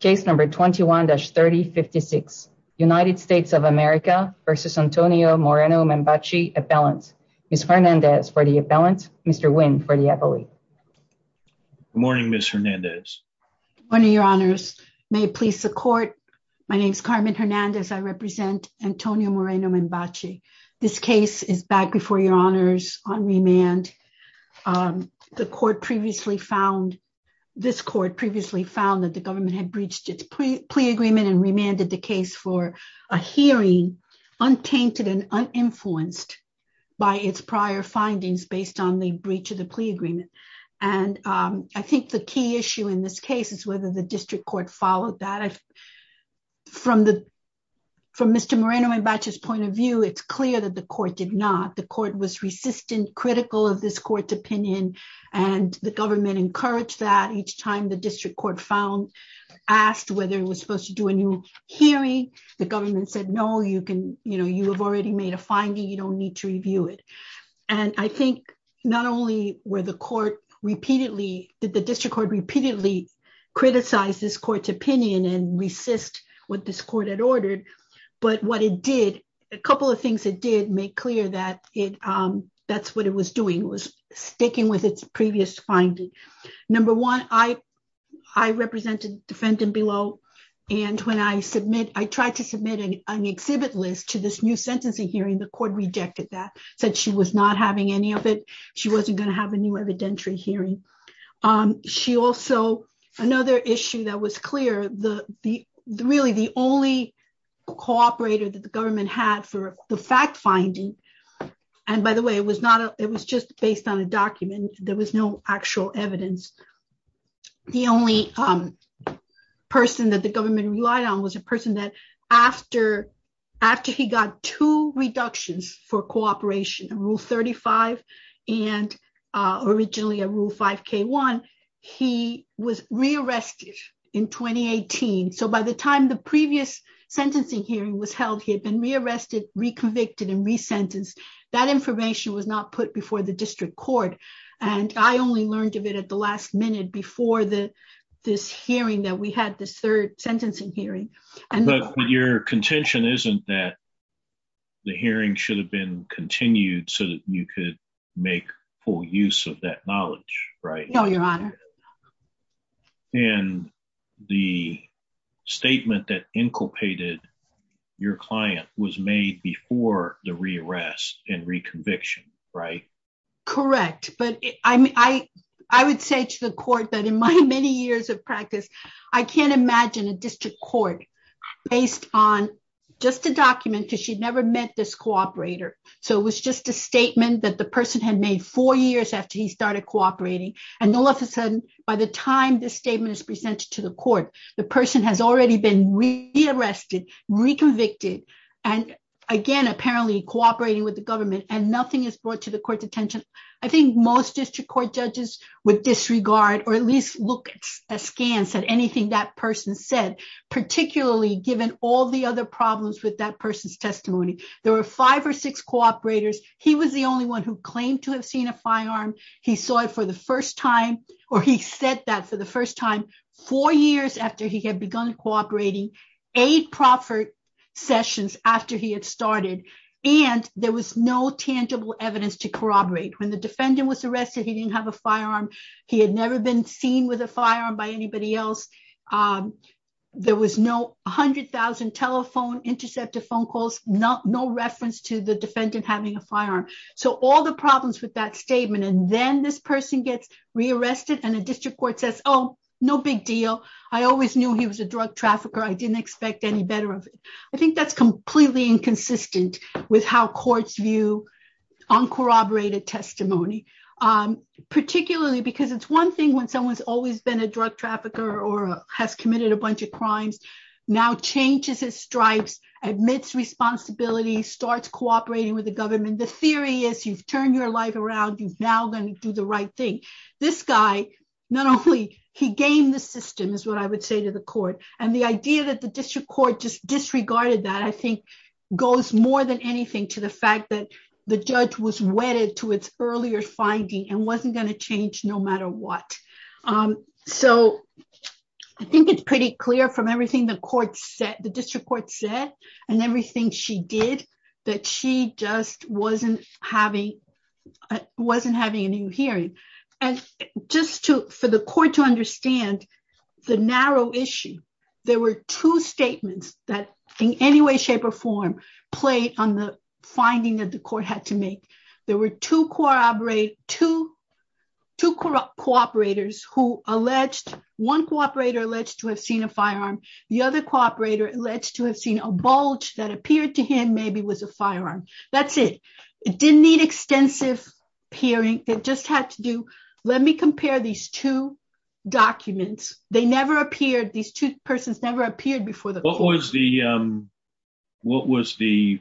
Case number 21-3056. United States of America versus Antonio Moreno-Membache appellant. Ms. Hernandez for the appellant. Mr. Nguyen for the appellate. Good morning, Ms. Hernandez. Good morning, your honors. May it please the court. My name is Carmen Hernandez. I represent Antonio Moreno-Membache. This case is back before your honors on remand. The court previously found, this court previously found that the government had breached its plea agreement and remanded the case for a hearing untainted and uninfluenced by its prior findings based on the breach of the plea agreement. And I think the key issue in this case is whether the district court followed that. From Mr. Moreno-Membache's point of view, it's clear that the court did not. The court was resistant, critical of this court's opinion. And the government encouraged that each time the district court found, asked whether it was supposed to do a new hearing. The government said, no, you can, you know, you have already made a finding. You don't need to review it. And I think not only were the court repeatedly, did the district court repeatedly criticize this court's opinion and resist what this court had done. A couple of things it did make clear that it, that's what it was doing. It was sticking with its previous finding. Number one, I represented defendant below. And when I submit, I tried to submit an exhibit list to this new sentencing hearing, the court rejected that, said she was not having any of it. She wasn't going to have a new evidentiary hearing. She also, another issue that was clear, the, the really the only cooperator that the government had for the fact finding. And by the way, it was not, it was just based on a document. There was no actual evidence. The only person that the government relied on was a person that after, after he got two in 2018. So by the time the previous sentencing hearing was held, he had been re-arrested, re-convicted and re-sentenced. That information was not put before the district court. And I only learned of it at the last minute before the, this hearing that we had this third sentencing hearing. But your contention isn't that the hearing should have been continued so that you could make full use of that knowledge, right? No, your honor. And the statement that inculpated your client was made before the re-arrest and re-conviction, right? Correct. But I, I, I would say to the court that in my many years of practice, I can't imagine a district court based on just a statement that the person had made four years after he started cooperating. And all of a sudden, by the time this statement is presented to the court, the person has already been re-arrested, re-convicted, and again, apparently cooperating with the government and nothing is brought to the court's attention. I think most district court judges would disregard, or at least look askance at anything that person said, particularly given all the other problems with that person's the only one who claimed to have seen a firearm. He saw it for the first time, or he said that for the first time, four years after he had begun cooperating, eight proffered sessions after he had started, and there was no tangible evidence to corroborate. When the defendant was arrested, he didn't have a firearm. He had never been seen with a firearm by anybody else. There was no telephone, intercepted phone calls, no reference to the defendant having a firearm. So all the problems with that statement, and then this person gets re-arrested and a district court says, oh, no big deal. I always knew he was a drug trafficker. I didn't expect any better of it. I think that's completely inconsistent with how courts view uncorroborated testimony, particularly because it's one thing when someone's always been a drug trafficker or has committed a bunch of crimes, now changes his stripes, admits responsibility, starts cooperating with the government. The theory is you've turned your life around. You're now going to do the right thing. This guy, not only he gamed the system, is what I would say to the court, and the idea that the district court just disregarded that, I think goes more than anything to the fact that the judge was wedded to its earlier finding and wasn't going to change no matter what. So I think it's pretty clear from everything the court said, the district court said, and everything she did, that she just wasn't having a new hearing. And just for the court to understand the narrow issue, there were two statements that in any way, shape, or form played on the court had to make. There were two cooperators who alleged, one cooperator alleged to have seen a firearm, the other cooperator alleged to have seen a bulge that appeared to him maybe was a firearm. That's it. It didn't need extensive hearing. It just had to do, let me compare these two documents. They never appeared, these two persons never appeared before the court. What was the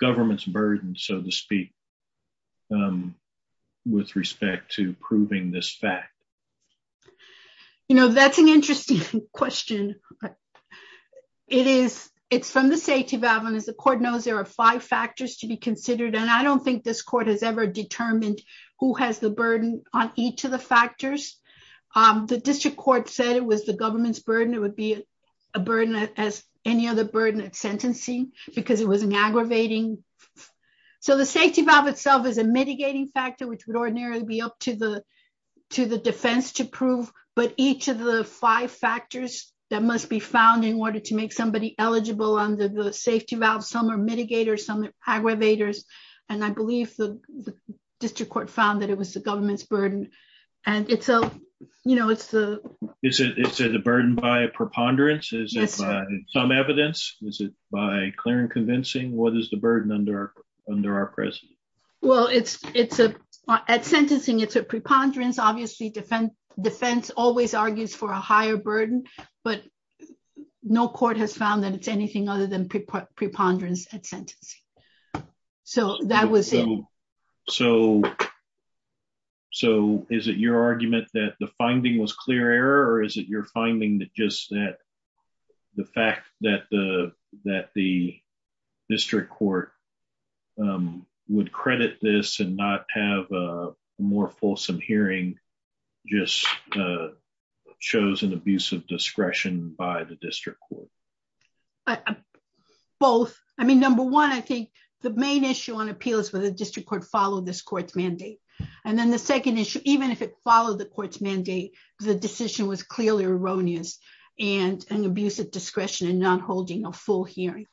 government's burden, so to speak, with respect to proving this fact? You know, that's an interesting question. It's from the safety valve, and as the court knows, there are five factors to be considered, and I don't think this court has ever determined who has the burden on each of the factors. The district court said it was the government's any other burden of sentencing, because it was an aggravating. So the safety valve itself is a mitigating factor, which would ordinarily be up to the defense to prove, but each of the five factors that must be found in order to make somebody eligible under the safety valve, some are mitigators, some are aggravators, and I believe the district court found that it was the government's Is it a burden by a preponderance? Is it by some evidence? Is it by clear and convincing? What is the burden under our presence? Well, at sentencing, it's a preponderance. Obviously, defense always argues for a higher burden, but no court has found that it's anything other than preponderance at sentencing. So that was it. So is it your argument that the finding was clear error? Or is it your finding that just that the fact that the district court would credit this and not have a more fulsome hearing just shows an abuse of discretion by the district court? Both. I mean, number one, I think the main issue on appeal is whether the district court followed this court's mandate. And then the second issue, even if it followed the court's mandate, the decision was clearly erroneous and an abuse of discretion and not holding a full hearing.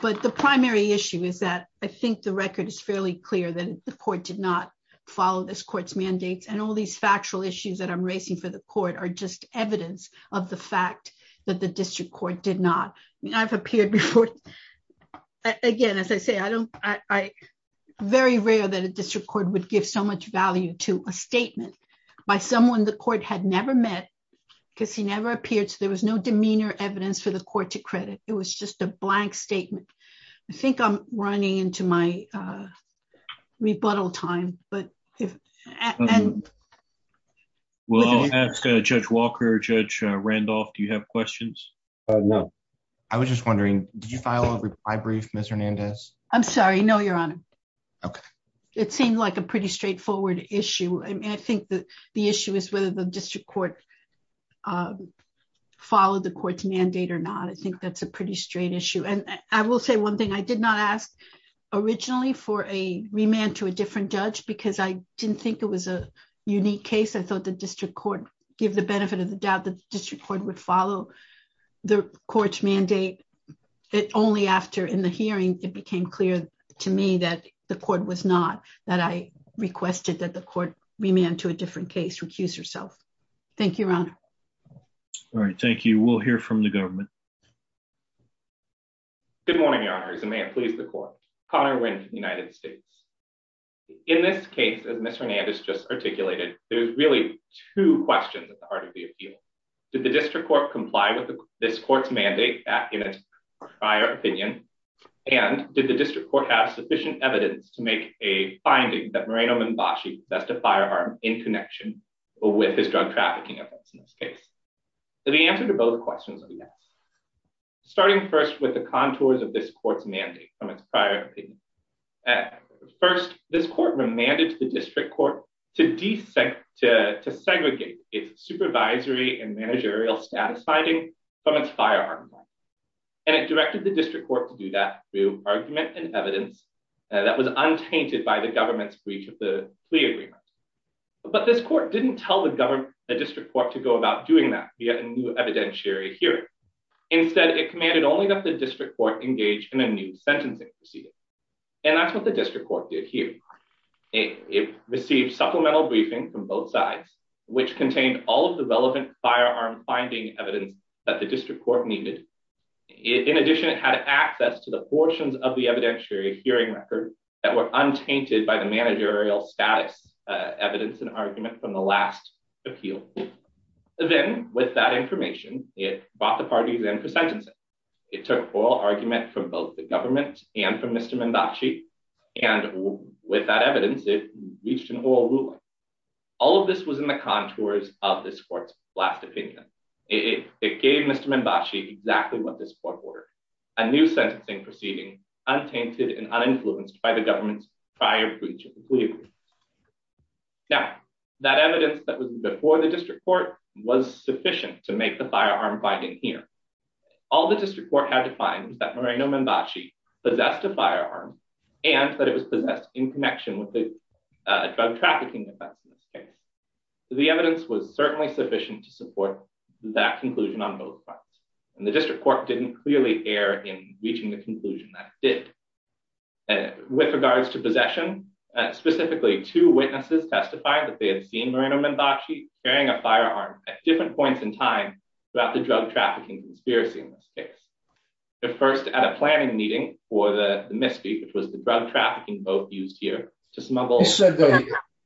But the primary issue is that I think the record is fairly clear that the court did not follow this court's mandates. And all these factual issues that I'm raising for the court are just evidence of the fact that the district court did not. I mean, I've appeared before. Again, as I say, I don't I very rare that a district court would give so much value to a someone the court had never met, because he never appeared. So there was no demeanor evidence for the court to credit. It was just a blank statement. I think I'm running into my rebuttal time. But we'll ask Judge Walker, Judge Randolph, do you have questions? I was just wondering, did you file a reply brief, Mr. Hernandez? I'm sorry. No, Your Honor. Okay. It seemed like a pretty straightforward issue. I mean, the issue is whether the district court followed the court's mandate or not. I think that's a pretty straight issue. And I will say one thing, I did not ask originally for a remand to a different judge, because I didn't think it was a unique case. I thought the district court give the benefit of the doubt the district court would follow the court's mandate. It only after in the hearing, it became clear to me that the court was not that I requested that the court remand to a different case, recuse yourself. Thank you, Your Honor. All right. Thank you. We'll hear from the government. Good morning, Your Honor. As the man please the court. Connor Winn, United States. In this case, as Mr. Hernandez just articulated, there's really two questions at the heart of the appeal. Did the district court comply with this court's mandate back in its prior opinion? And did the district court have sufficient evidence to make a finding that Moreno-Mimbashi, that's the firearm in connection with his drug trafficking in this case? The answer to both questions are yes. Starting first with the contours of this court's mandate from its prior opinion. First, this court remanded the district court to desync to segregate its supervisory and managerial status finding from its firearm. And it directed the district court to do that through argument and evidence that was untainted by the government's plea agreement. But this court didn't tell the district court to go about doing that via a new evidentiary hearing. Instead, it commanded only that the district court engage in a new sentencing proceeding. And that's what the district court did here. It received supplemental briefing from both sides, which contained all of the relevant firearm finding evidence that the district court needed. In addition, it had access to the portions of the evidentiary hearing record that were status evidence and argument from the last appeal. Then with that information, it brought the parties in for sentencing. It took oral argument from both the government and from Mr. Mimbashi. And with that evidence, it reached an oral ruling. All of this was in the contours of this court's last opinion. It gave Mr. Mimbashi exactly what this court ordered, a new sentencing proceeding, untainted and uninfluenced by the government's prior breach of the plea agreement. Now, that evidence that was before the district court was sufficient to make the firearm finding here. All the district court had to find was that Moreno Mimbashi possessed a firearm and that it was possessed in connection with a drug trafficking offense. The evidence was certainly sufficient to support that conclusion on both fronts, and the district court didn't clearly err in reaching the conclusion that it did. And with regards to possession, specifically two witnesses testified that they had seen Moreno Mimbashi carrying a firearm at different points in time throughout the drug trafficking conspiracy in this case. The first at a planning meeting for the MIS-FE, which was the drug trafficking boat used here to smuggle-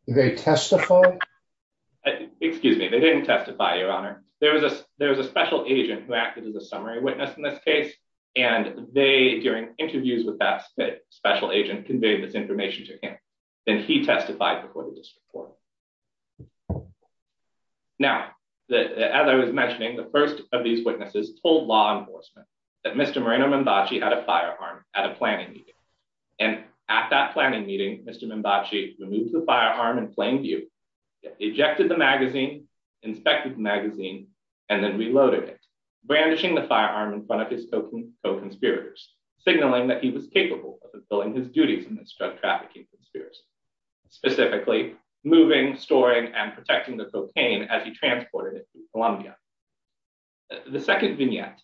They testified? Excuse me, they didn't testify, Your Honor. There was a special agent who acted as a summary witness in this case, and they, during interviews with that special agent, conveyed this information to him. Then he testified before the district court. Now, as I was mentioning, the first of these witnesses told law enforcement that Mr. Moreno Mimbashi had a firearm at a planning meeting. And at that planning meeting, Mr. Mimbashi removed the firearm in plain view, ejected the magazine, inspected the magazine, and then reloaded it, brandishing the firearm in front of his co-conspirators, signaling that he was capable of fulfilling his duties in this drug trafficking conspiracy, specifically moving, storing, and protecting the cocaine as he transported it to Colombia. The second vignette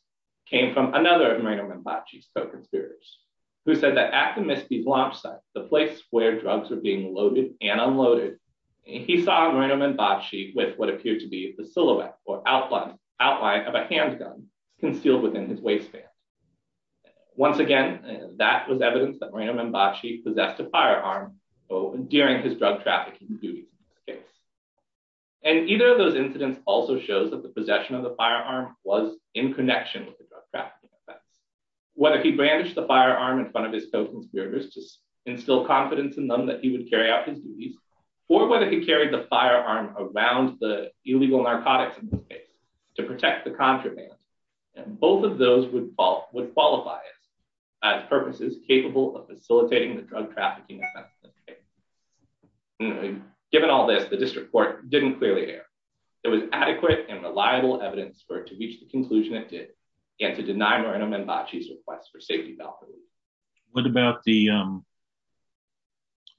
came from another of Moreno Mimbashi's co-conspirators, who said that at the MIS-FE's launch site, the place where drugs were being loaded and unloaded, he saw Moreno Mimbashi with what appeared to be the silhouette or outline of a handgun concealed within his waistband. Once again, that was evidence that Moreno Mimbashi possessed a firearm during his drug trafficking duties. And either of those incidents also shows that the possession of the firearm was in connection with the drug trafficking offense. Whether he brandished the firearm in front of his co-conspirators to instill confidence in them that he would carry out his duties, or whether he carried the firearm around the illegal narcotics, in this case, to protect the contraband, both of those would qualify as purposes capable of facilitating the drug trafficking offense. Given all this, the district court didn't clearly err. There was adequate and reliable evidence for it to reach the conclusion it did, and to deny Moreno Mimbashi's request for safety. What about the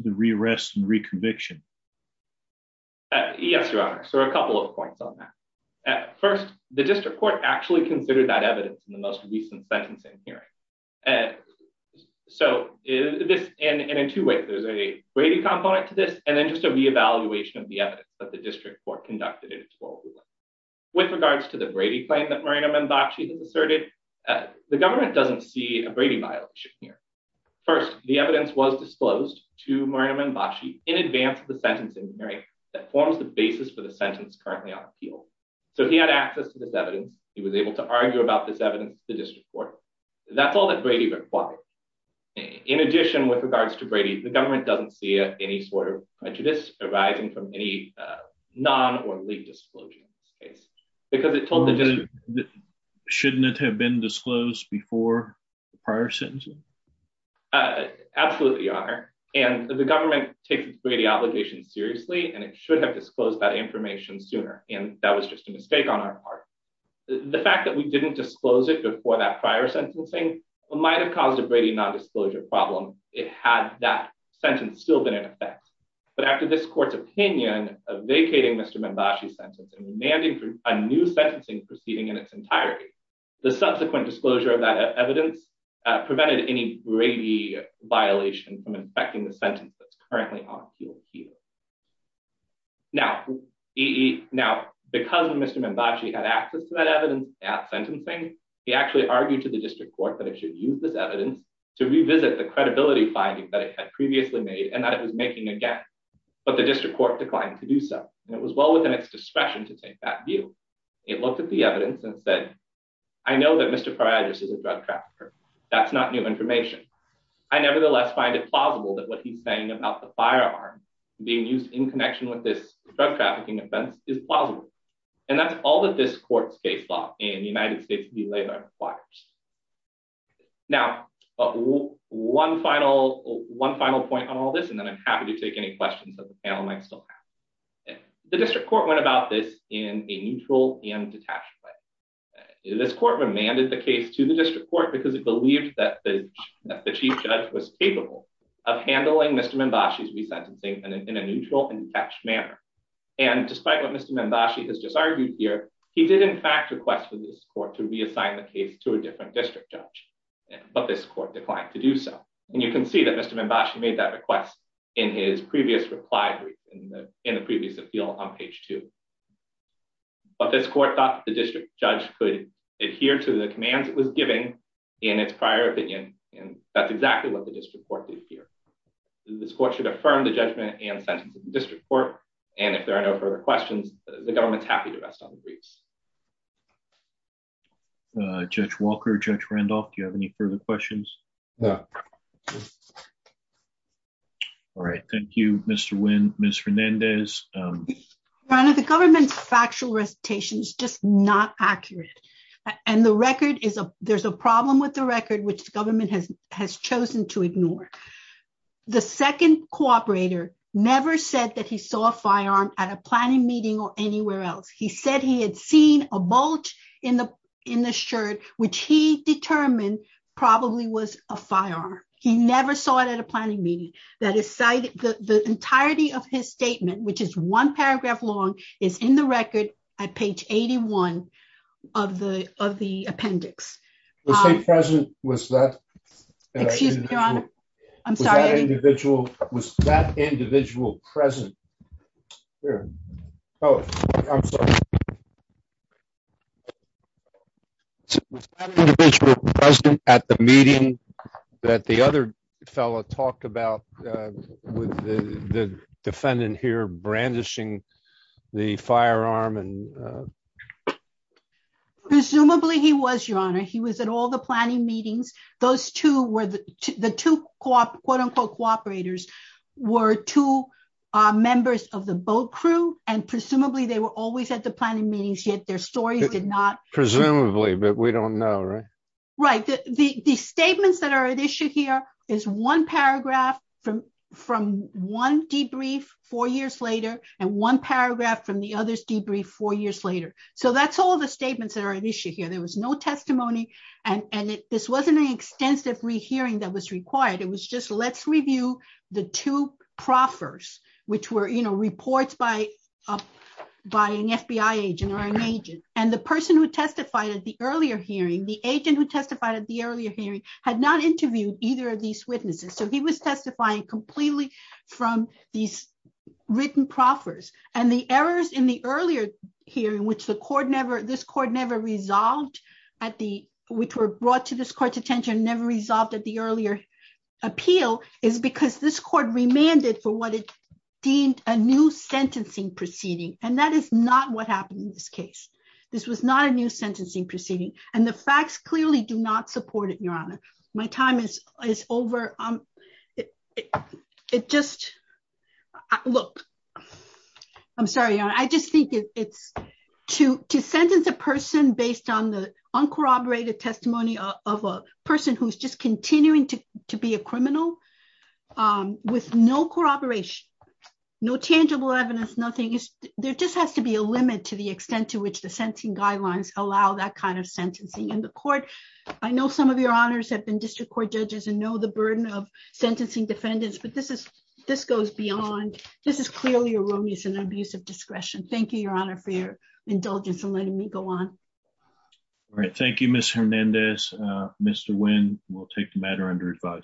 re-arrest and re-conviction? Yes, Your Honor. So a couple of points on that. First, the district court actually considered that evidence in the most recent sentencing hearing. And in two ways, there's a Brady component to this, and then just a re-evaluation of the evidence that the district court conducted. With regards to the Brady claim that Moreno Mimbashi has asserted, the government doesn't see a Brady violation here. First, the evidence was disclosed to Moreno Mimbashi in advance of the sentencing hearing that forms the basis for the sentence currently on appeal. So he had access to this evidence. He was able to argue about this evidence to the district court. That's all that Brady required. In addition, with regards to Brady, the government doesn't see any sort of prejudice arising from any non- or leaked disclosure because it told the district... Shouldn't it have been disclosed before the prior sentencing? Absolutely, Your Honor. And the government takes its Brady obligations seriously, and it should have disclosed that information sooner. And that was just a mistake on our part. The fact that we didn't disclose it before that prior sentencing might have caused a Brady non-disclosure problem if it had that sentence still been in effect. But after this court's opinion of vacating Mr. Mimbashi's a new sentencing proceeding in its entirety, the subsequent disclosure of that evidence prevented any Brady violation from infecting the sentence that's currently on appeal here. Now, because Mr. Mimbashi had access to that evidence at sentencing, he actually argued to the district court that it should use this evidence to revisit the credibility findings that it had previously made and that it was making again, but the district court declined to do so. And it was well within its discretion to take that view. It looked at the evidence and said, I know that Mr. Pariadis is a drug trafficker. That's not new information. I nevertheless find it plausible that what he's saying about the firearm being used in connection with this drug trafficking offense is plausible. And that's all that this court's case law in the United States would be later on requires. Now, one final point on all this, and then I'm happy to take any questions that the panel might still have. The district court went about this in a neutral and detached way. This court remanded the case to the district court because it believed that the chief judge was capable of handling Mr. Mimbashi's resentencing in a neutral and detached manner. And despite what Mr. Mimbashi has just argued here, he did in fact request for this court to reassign the case to a different district judge, but this court declined to do so. And you can see that Mr. Mimbashi made that request in his previous reply brief, in the previous appeal on page two. But this court thought that the district judge could adhere to the commands it was giving in its prior opinion. And that's exactly what the district court did here. This court should affirm the judgment and sentence of the district court. And if there are no further questions, the government's happy to rest on the briefs. Judge Walker, Judge Randolph, do you have further questions? No. All right. Thank you, Mr. Nguyen. Ms. Fernandez. Rana, the government's factual recitation is just not accurate. And the record is, there's a problem with the record, which the government has chosen to ignore. The second cooperator never said that he saw a firearm at a planning meeting or anywhere else. He said he had seen a bolt in the shirt, which he determined probably was a firearm. He never saw it at a planning meeting. The entirety of his statement, which is one paragraph long, is in the record at page 81 of the appendix. Was that individual present at the meeting that the other fellow talked about with the defendant here brandishing the firearm? Presumably he was, Your Honor. He was at all the planning meetings. Those two were the two quote unquote cooperators were two members of the boat crew. And presumably they were always at the planning meetings, yet their stories did not. Presumably, but we don't know, right? Right. The statements that are at issue here is one paragraph from one debrief four years later, and one paragraph from the others debrief four years later. So that's all the statements that are at issue here. There was no testimony. And this wasn't an extensive rehearing that was required. It was just let's review the two proffers, which were reports by an FBI agent or an agent. And the person who testified at the earlier hearing, the agent who testified at the earlier hearing had not interviewed either of these witnesses. So he was testifying completely from these written proffers and the errors in the earlier hearing, which the court never, this court never resolved at the, which were brought to this court's attention, never resolved at the earlier appeal is because this court remanded for what it deemed a new sentencing proceeding. And that is not what happened in this case. This was not a new sentencing proceeding. And the facts clearly do not support it, Your Honor. My time is over. It just look, I'm sorry, I just think it's to sentence a person based on the uncorroborated testimony of a person who's just continuing to be a criminal with no corroboration, no tangible evidence, nothing is, there just has to be a limit to the extent to which the sentencing guidelines allow that kind of sentencing in the court. I know some of your honors have been district court judges and know the burden of sentencing defendants, but this is, this goes beyond, this is clearly erroneous and abusive discretion. Thank you, Your Honor, for your indulgence in letting me go on. All right. Thank you, Ms. Hernandez. Mr. Nguyen will take the matter under advisory.